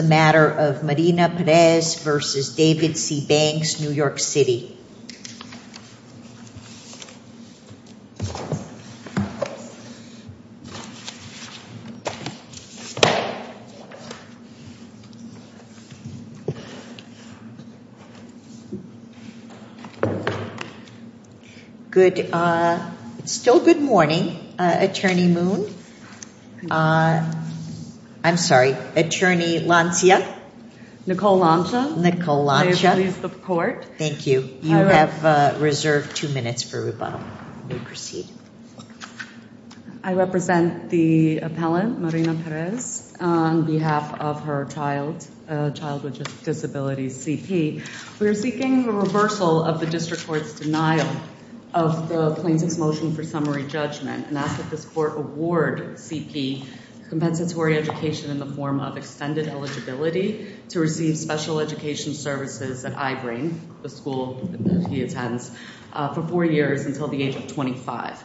the matter of Marina Perez v. David C. Banks, New York City. Good, still good morning, Attorney Moon. I'm sorry, Attorney Lancia, Nicole Lancia, please the court. Thank you. You have reserved two minutes for rebuttal. We proceed. I represent the appellant, Marina Perez, on behalf of her child, a child with disabilities, CP. We are seeking a reversal of the district court's denial of the plaintiff's motion for summary judgment and ask that this court award CP compensatory education in the form of extended eligibility to receive special education services that I bring, the school that he attends, for four years until the age of 25.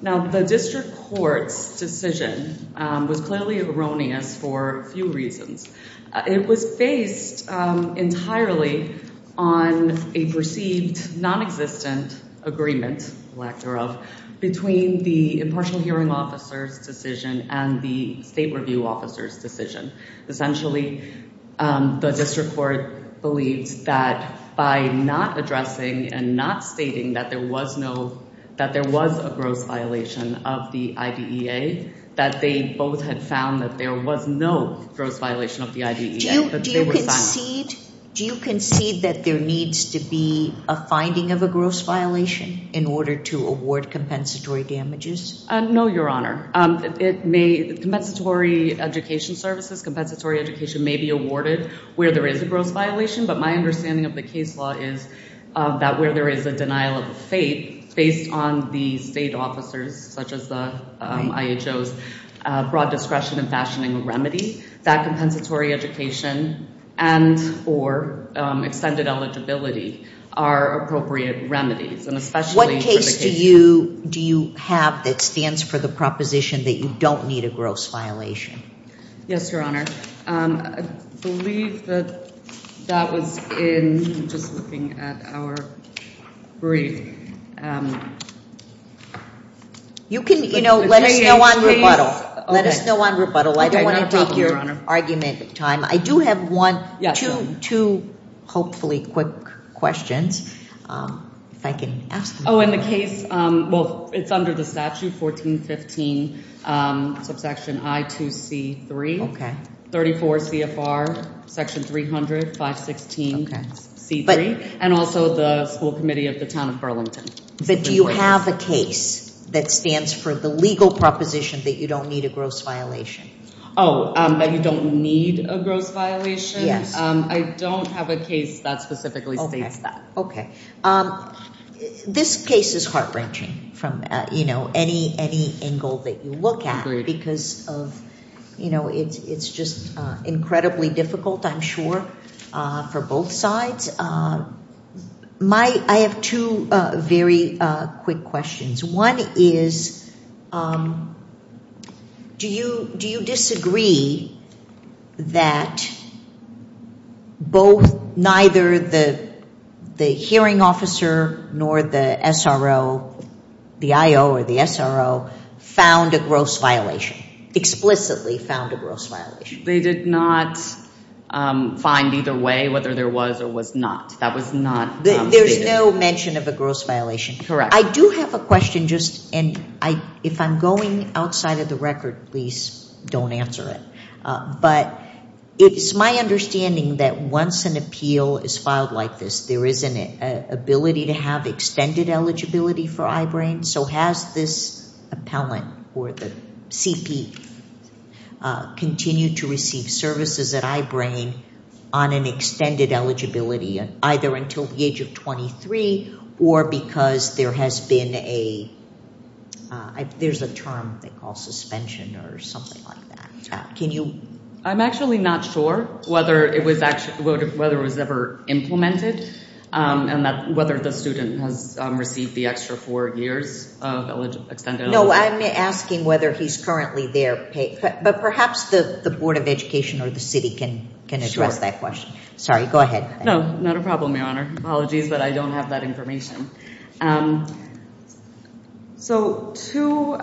Now, the district court's decision was clearly erroneous for a few reasons. It was based entirely on a perceived non-existent agreement, lack thereof, between the impartial hearing officer's decision and the state review officer's decision. Essentially, the district court believes that by not addressing and not stating that there was no, that there was a gross violation of the IDEA, that they both had found that there was no gross violation of the IDEA. Do you concede that there needs to be a finding of a gross violation in order to award compensatory damages? No, Your Honor. It may, the compensatory education services, compensatory education, may be awarded where there is a gross violation, but my understanding of the case law is that where there is a denial of the fate, based on the state officers, such as the IHO's broad discretion in fashioning a remedy, that compensatory education and or extended eligibility are appropriate remedies and especially... What case do you have that stands for the proposition that you don't need a gross violation? Yes, Your Honor. I believe that that was in just looking at our brief. You can, you know, let us know on rebuttal. Let us know on rebuttal. I don't want to take your argument time. I do have one, two hopefully quick questions, if I can ask them. Oh, in the case, well, it's under the statute, 1415 subsection I2C3, 34 CFR section 300, 516C3, and also the school committee of the town of Burlington. But do you have a case that stands for the legal proposition that you don't need a gross violation? Oh, that you don't need a gross violation? Yes. I don't have a case that specifically states that. Okay. This case is heart-wrenching from, you know, any angle that you look at because of, you know, it's just incredibly difficult, I'm sure, for both sides. I have two very quick questions. One is, do you disagree that both, neither the hearing officer nor the SRO, the IO or the SRO, found a gross violation, explicitly found a gross violation? They did not find either way, whether there was or was not. That was not stated. There's no mention of a gross violation? Correct. I do have a question just, and if I'm going outside of the record, please don't answer it. But it's my understanding that once an appeal is filed like this, there is an ability to have extended eligibility for I-BRAIN. So has this appellant or the CP continued to receive services at I-BRAIN on an extended eligibility, either until the age of 23 or because there has been a, there's a term they call suspension or something like that. Can you? I'm actually not sure whether it was actually, whether it was ever implemented and that whether the student has received the extra four years of extended eligibility. No, I'm asking whether he's currently there paid, but perhaps the Board of Education or the city can address that question. Sorry, go ahead. No, not a problem, Your Honor. Apologies, but I don't have that information. So to,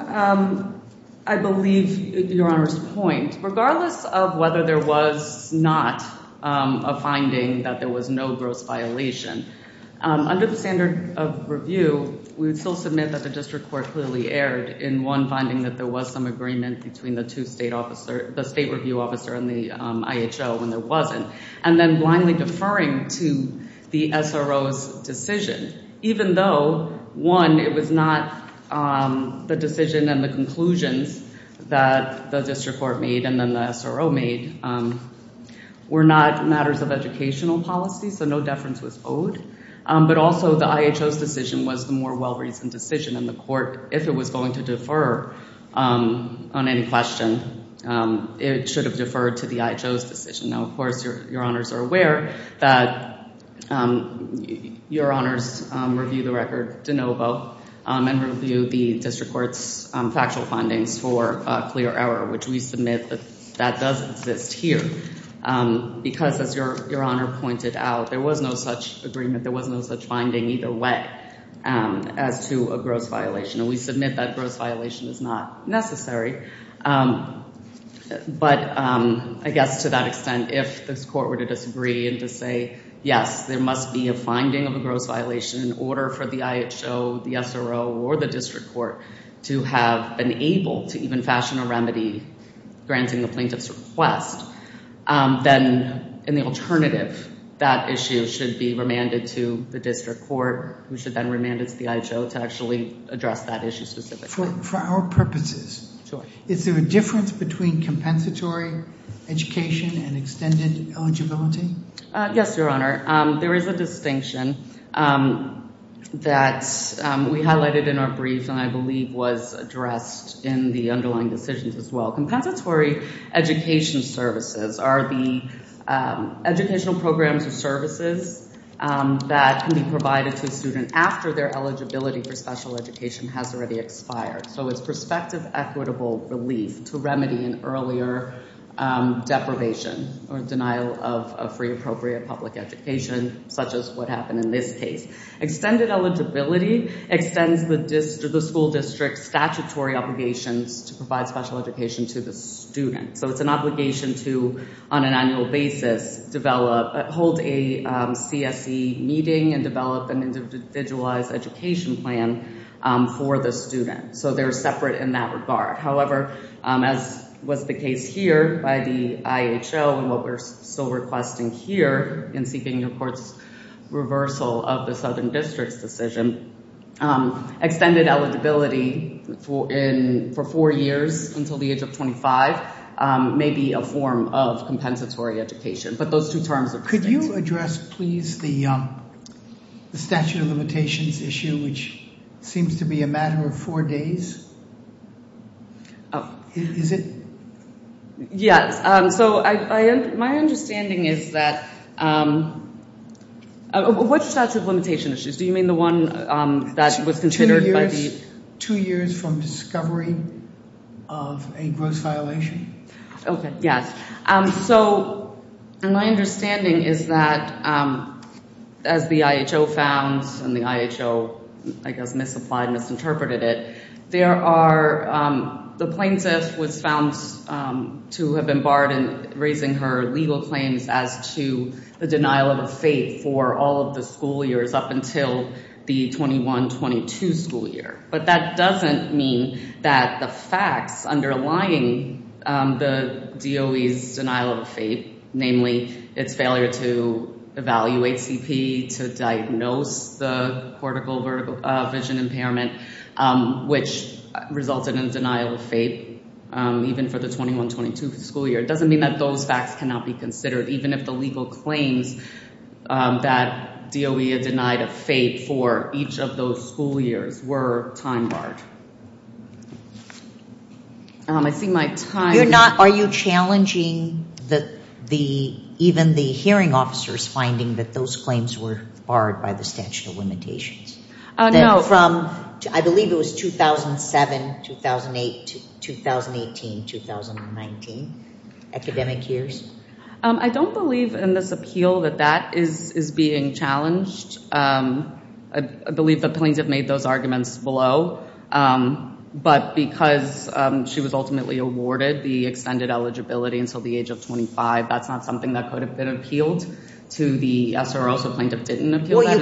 I believe Your Honor's point, regardless of whether there was not a finding that there was no gross violation, under the standard of review, we would still submit that the district court clearly erred in one finding that there was some agreement between the two state officer, the state review officer and the IHO when there wasn't. And then blindly deferring to the SRO's decision, even though one, it was not the decision and the conclusions that the district court made and then the SRO made were not matters of educational policy. So no deference was owed. But also the IHO's decision was the more well-reasoned decision and the court, if it was going to defer on any question, it should have deferred to the IHO's decision. Now, of course, Your Honors are aware that Your Honors review the record de novo and review the district court's factual findings for clear error, which we submit that that does exist here. Because as Your Honor pointed out, there was no such agreement, there was no such finding either way as to a gross violation. And we submit that gross violation is not necessary. But I guess to that extent, if this court were to disagree and to say, yes, there must be a finding of a gross violation in order for the IHO, the SRO or the district court to have been able to even fashion a remedy granting the plaintiff's request, then in the alternative, that issue should be remanded to the district court, who should then remand it to the IHO to actually address that issue specifically. For our purposes, is there a difference between compensatory education and extended eligibility? Yes, Your Honor. There is a distinction that we highlighted in our brief and I believe was addressed in the underlying decisions as well. Compensatory education services are the educational programs or services that can be provided to a student after their eligibility for special education has already expired. So it's prospective equitable relief to remedy an earlier deprivation or denial of free appropriate public education, such as what happened in this case. Extended eligibility extends the school district's statutory obligations to provide special education to the student. So it's an obligation to, on an annual basis, hold a CSE meeting and develop an individualized education plan for the student. So they're separate in that regard. However, as was the case here by the IHO and what we're still requesting here in seeking your court's reversal of the Southern District's decision, extended eligibility for four years until the age of 25 may be a form of compensatory education. But those two terms are distinct. Could you address, please, the statute of limitations issue, which seems to be a matter of days? Is it? Yes. So my understanding is that, what's the statute of limitation issues? Do you mean the one that was considered by the... Two years from discovery of a gross violation. Okay. Yes. So my understanding is that as the IHO found and the IHO, I guess, misapplied, misinterpreted it. The plaintiff was found to have been barred in raising her legal claims as to the denial of a fate for all of the school years up until the 21-22 school year. But that doesn't mean that the facts underlying the DOE's denial of a fate, namely its failure to evaluate to diagnose the cortical vision impairment, which resulted in denial of fate, even for the 21-22 school year. It doesn't mean that those facts cannot be considered, even if the legal claims that DOE had denied a fate for each of those school years were time barred. I see my time... You're not... Are you challenging the... Even the hearing officers finding that those claims were barred by the statute of limitations? No. From, I believe it was 2007, 2008, 2018, 2019, academic years? I don't believe in this appeal that that is being challenged. I believe the plaintiff made those arguments below, but because she was ultimately awarded the extended eligibility until the age of 25, that's not something that could have been appealed to the SROs. The plaintiff didn't appeal that. Well,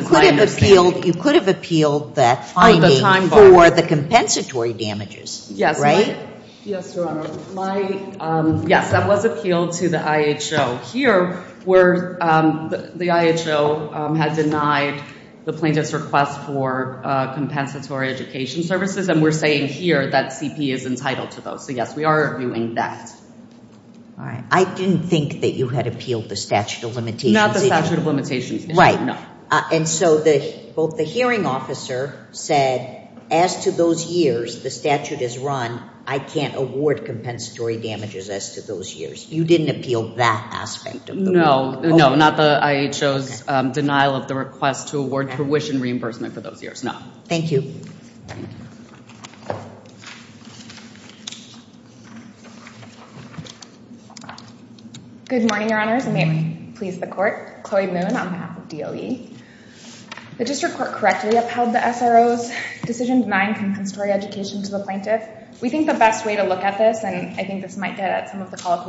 you could have appealed the finding for the compensatory damages, right? Yes, Your Honor. Yes, that was appealed to the IHO. Here, where the IHO had denied the plaintiff's request for compensatory education services, and we're saying here that CP is entitled to those. So, yes, we are doing that. All right. I didn't think that you had appealed the statute of limitations. Not the statute of limitations. Right. No. And so, both the hearing officer said, as to those years the statute is run, I can't award compensatory damages as to those years. You didn't appeal that aspect of the statute. No, not the IHO's denial of the request to award tuition reimbursement for those years. No. Thank you. Good morning, Your Honors, and may it please the Court. Chloe Moon on behalf of DOE. The District Court correctly upheld the SRO's decision denying compensatory education to the plaintiff. We think the best way to look at this, and I think this might get at some of the parts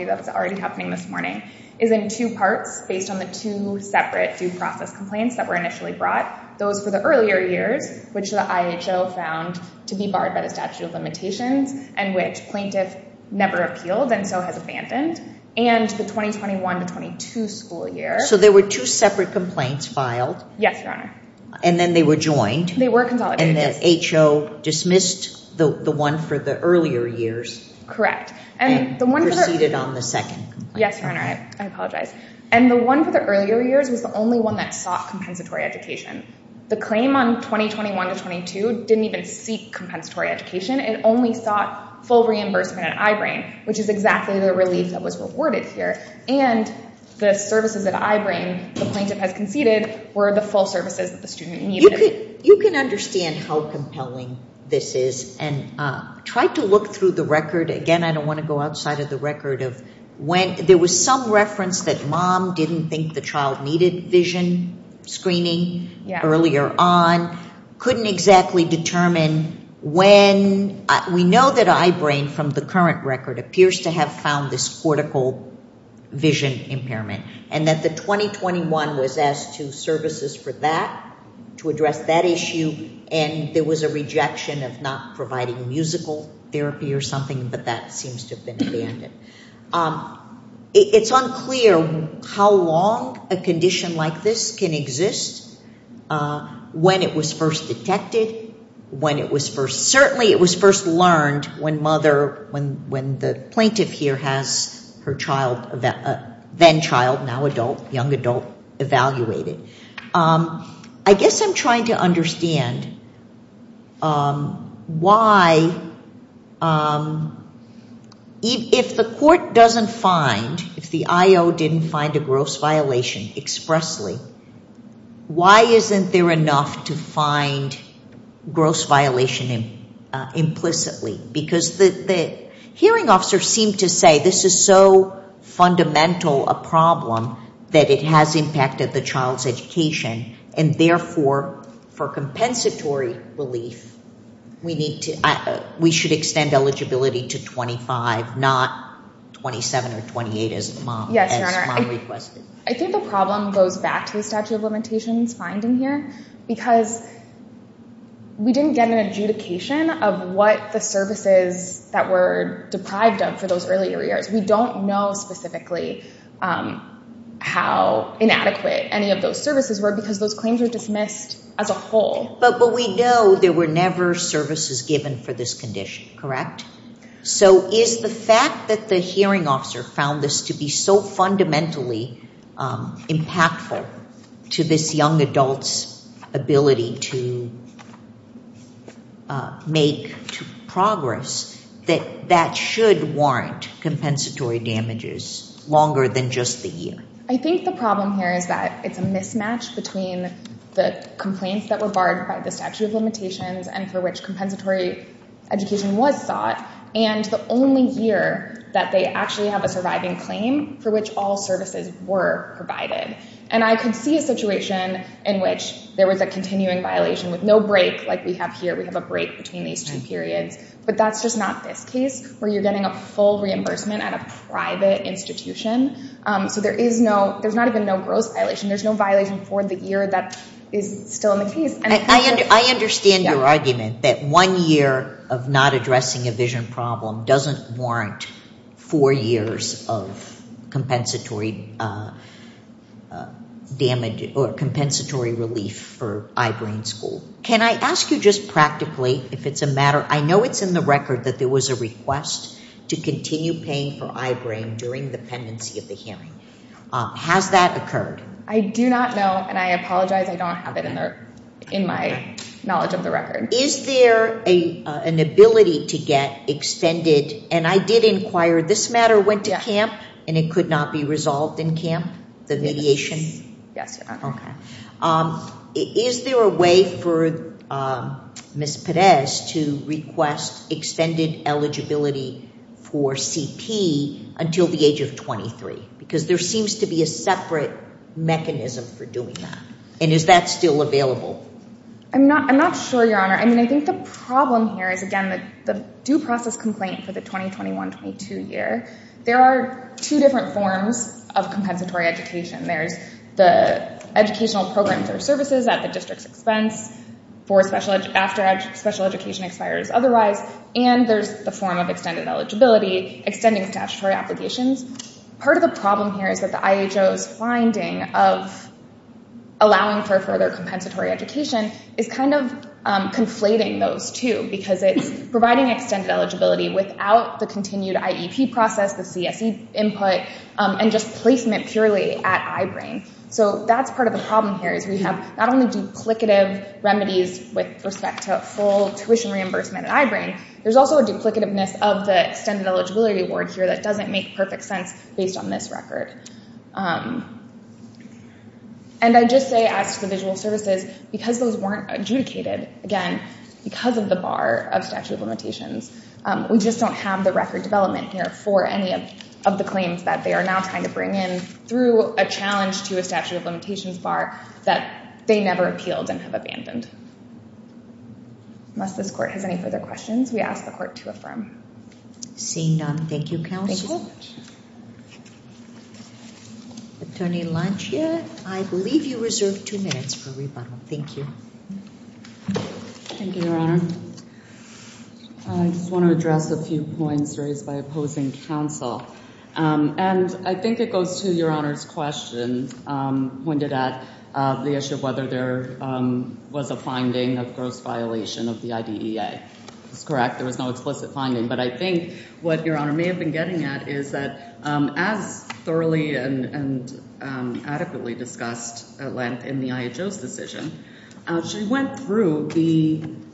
based on the two separate due process complaints that were initially brought, those for the earlier years, which the IHO found to be barred by the statute of limitations, and which plaintiff never appealed and so has abandoned, and the 2021-22 school year. So, there were two separate complaints filed. Yes, Your Honor. And then they were joined. They were consolidated. And the HO dismissed the one for the earlier years. Correct. And the one on the second. Yes, Your Honor. I apologize. And the one for the earlier years was the only one that sought compensatory education. The claim on 2021-22 didn't even seek compensatory education. It only sought full reimbursement at I-BRAIN, which is exactly the relief that was rewarded here. And the services that I-BRAIN, the plaintiff has conceded, were the full services that the student needed. You can understand how compelling this is and try to look through the record. Again, I don't want to go outside of the record of when. There was some reference that mom didn't think the child needed vision screening earlier on. Couldn't exactly determine when. We know that I-BRAIN, from the current record, appears to have found this cortical vision impairment, and that the 2021 was asked to services for that, to address that issue. And there was a rejection of not providing musical therapy or something, but that seems to have been abandoned. It's unclear how long a condition like this can exist, when it was first detected, when it was first, certainly it was first learned when mother, when the plaintiff here has her child, then child, now adult, young adult, evaluated. I guess I'm trying to understand why, if the court doesn't find, if the I-O didn't find a gross violation expressly, why isn't there enough to find gross violation implicitly? Because the hearing officers seem to say this is so fundamental a problem that it has impacted the child's education, and therefore, for compensatory relief, we should extend eligibility to 25, not 27 or 28, as mom requested. I think the problem goes back to the statute of limitations finding here, because we didn't get an adjudication of what the services that were deprived of for those earlier years. We don't know specifically how inadequate any of those services were, because those claims were dismissed as a whole. But we know there were never services given for this condition, correct? So is the fact that the hearing officer found this to be so fundamentally impactful to this young adult's ability to make progress, that that should warrant compensatory damages longer than just the year? I think the problem here is that it's a mismatch between the complaints that were barred by the statute of limitations, and for which compensatory education was sought, and the only year that they actually have a surviving claim for which all services were provided. And I could see a situation in which there was a continuing violation with no break, like we have here. We have a break between these two periods. But that's just not this case, where you're getting a full reimbursement at a private institution. So there is no, there's not been no gross violation. There's no violation for the year that is still in the case. I understand your argument that one year of not addressing a vision problem doesn't warrant four years of compensatory damage or compensatory relief for eye-brain school. Can I ask you just practically, if it's a matter, I know it's in the record that there was a request to continue paying for eye-brain during the pendency of the hearing. Has that occurred? I do not know, and I apologize, I don't have it in there in my knowledge of the record. Is there an ability to get expended, and I did inquire, this matter went to CAMP and it could not be resolved in CAMP, the mediation? Yes, Your Honor. Okay. Is there a way for Ms. Pérez to request extended eligibility for CP until the age of 23? Because there seems to be a separate mechanism for doing that. And is that still available? I'm not sure, Your Honor. I mean, I think the problem here is, again, the due process complaint for the 2021-22 year, there are two different forms of compensatory education. There's the educational programs or services at the district's expense after special education expires otherwise, and there's the form of extended eligibility, extending statutory applications. Part of the problem here is that the IHO's finding of allowing for further compensatory education is kind of conflating those two, because it's providing extended eligibility without the continued IEP process, the CSE input, and just purely at I-BRAIN. So that's part of the problem here, is we have not only duplicative remedies with respect to full tuition reimbursement at I-BRAIN, there's also a duplicativeness of the extended eligibility award here that doesn't make perfect sense based on this record. And I just say, as to the visual services, because those weren't adjudicated, again, because of the bar of statute of limitations, we just don't have the record development here for any of the claims that they are now trying to bring in through a challenge to a statute of limitations bar that they never appealed and have abandoned. Unless this court has any further questions, we ask the court to affirm. Seeing none, thank you, counsel. Attorney Lancia, I believe you reserve two minutes for rebuttal. Thank you. Thank you, Your Honor. I just want to address a few points raised by opposing counsel. And I think it goes to Your Honor's question, pointed at the issue of whether there was a finding of gross violation of the IDEA. That's correct, there was no explicit finding. But I think what Your Honor may have been getting at is that, as thoroughly and adequately discussed at length in the IHO's decision, she went through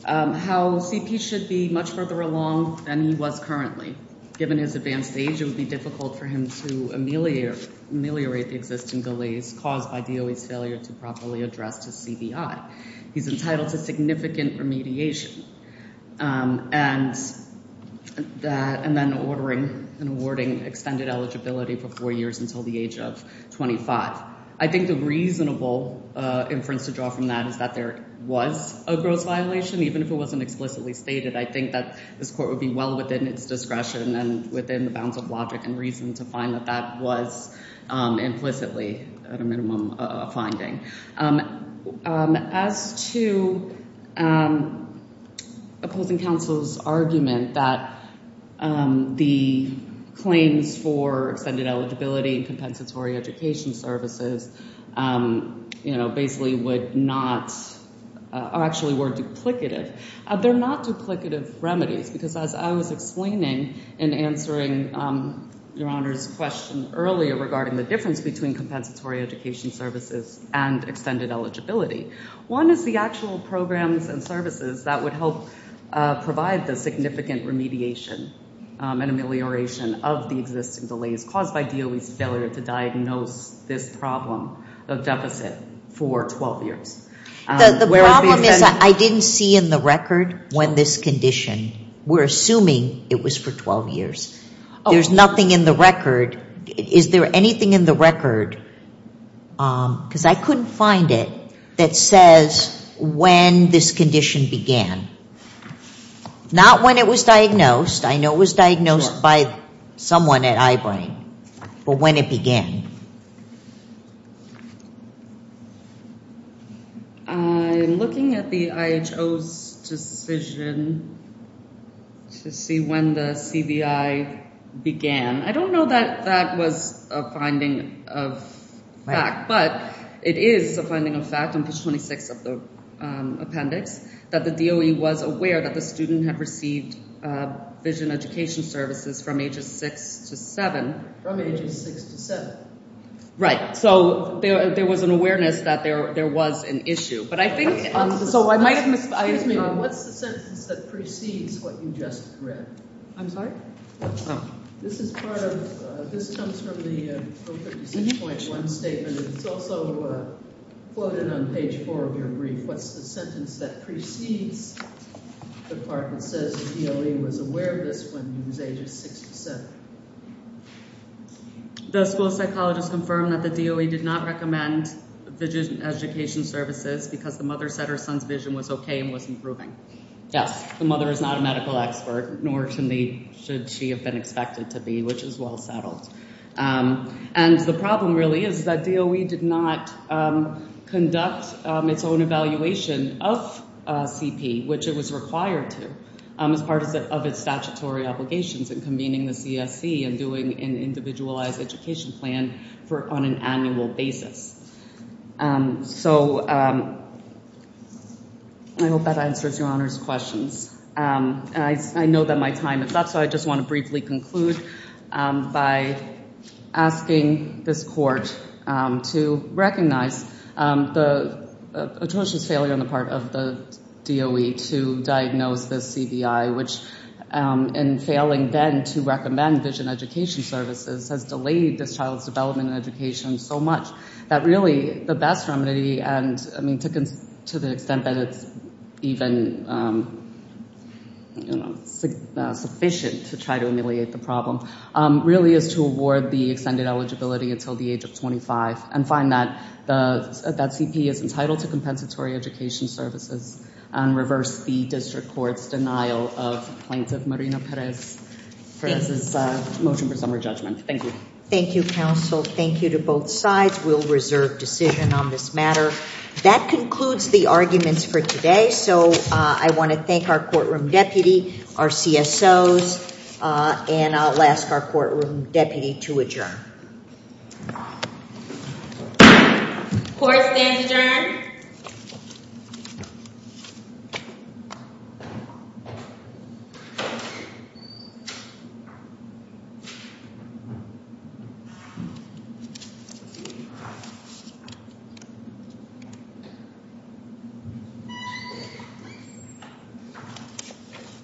how CP should be much further along than he was currently. Given his advanced age, it would be difficult for him to ameliorate the existing delays caused by DOE's failure to properly address his CBI. He's entitled to significant remediation and then ordering and awarding extended eligibility for four years until the age of 25. I think the reasonable inference to draw from that is that there was a gross violation, even if it wasn't explicitly stated. I think that this court would be well within its discretion and within the bounds of logic and reason to find that that was implicitly a minimum finding. As to opposing counsel's argument that the claims for extended eligibility and compensatory education services, you know, basically would not, or actually were duplicative, they're not duplicative remedies. Because as I was explaining in answering Your Honor's question earlier regarding the difference between compensatory education services and extended eligibility, one is the actual programs and services that would help provide the significant remediation and amelioration of the existing delays caused by DOE's failure to diagnose this problem of deficit for 12 years. The problem is that I didn't see in the record when this condition, we're assuming it was for 12 years, there's nothing in the record. Is there anything in the record, because I couldn't find it, that says when this condition began? Not when it was diagnosed, I know it was diagnosed by someone at Eyebrain, but when it began? I'm looking at the IHO's decision to see when the CBI began. I don't know that that was a finding of fact, but it is a finding of fact on page 26 of the appendix that the DOE was aware that the student had received vision education services from ages six to seven. From ages six to seven. Right, so there was an awareness that there was an issue. But I think, so I might, what's the sentence that precedes what you just read? I'm sorry? This is part of, this comes from the 056.1 statement. It's also quoted on page four of your brief. What's the sentence that precedes the part that says the DOE was aware of this when he was ages six to seven? The school psychologist confirmed that the DOE did not recommend vision education services because the mother said her son's vision was okay and was improving. Yes, the mother is not a medical expert, nor should she have been expected to be, which is well settled. And the problem really is that DOE did not conduct its own evaluation of CP, which it was required to, as part of its statutory obligations in convening the CSC and doing an individualized education plan on an annual basis. So, I hope that answers your questions. I know that my time is up, so I just want to briefly conclude by asking this court to recognize the atrocious failure on the part of the DOE to diagnose this CVI, which in failing then to recommend vision education services has delayed this child's development and education so much that really the best remedy, and I mean to the extent that it's even sufficient to try to ameliorate the problem, really is to award the extended eligibility until the age of 25 and find that CP is entitled to compensatory education services and reverse the district court's denial of plaintiff Marina Perez's motion for summary judgment. Thank you, counsel. Thank you to both sides. We'll reserve decision on this matter. That concludes the arguments for today, so I want to thank our courtroom deputy, our CSOs, and I'll ask our courtroom deputy to adjourn. Court stands adjourned. Thank you.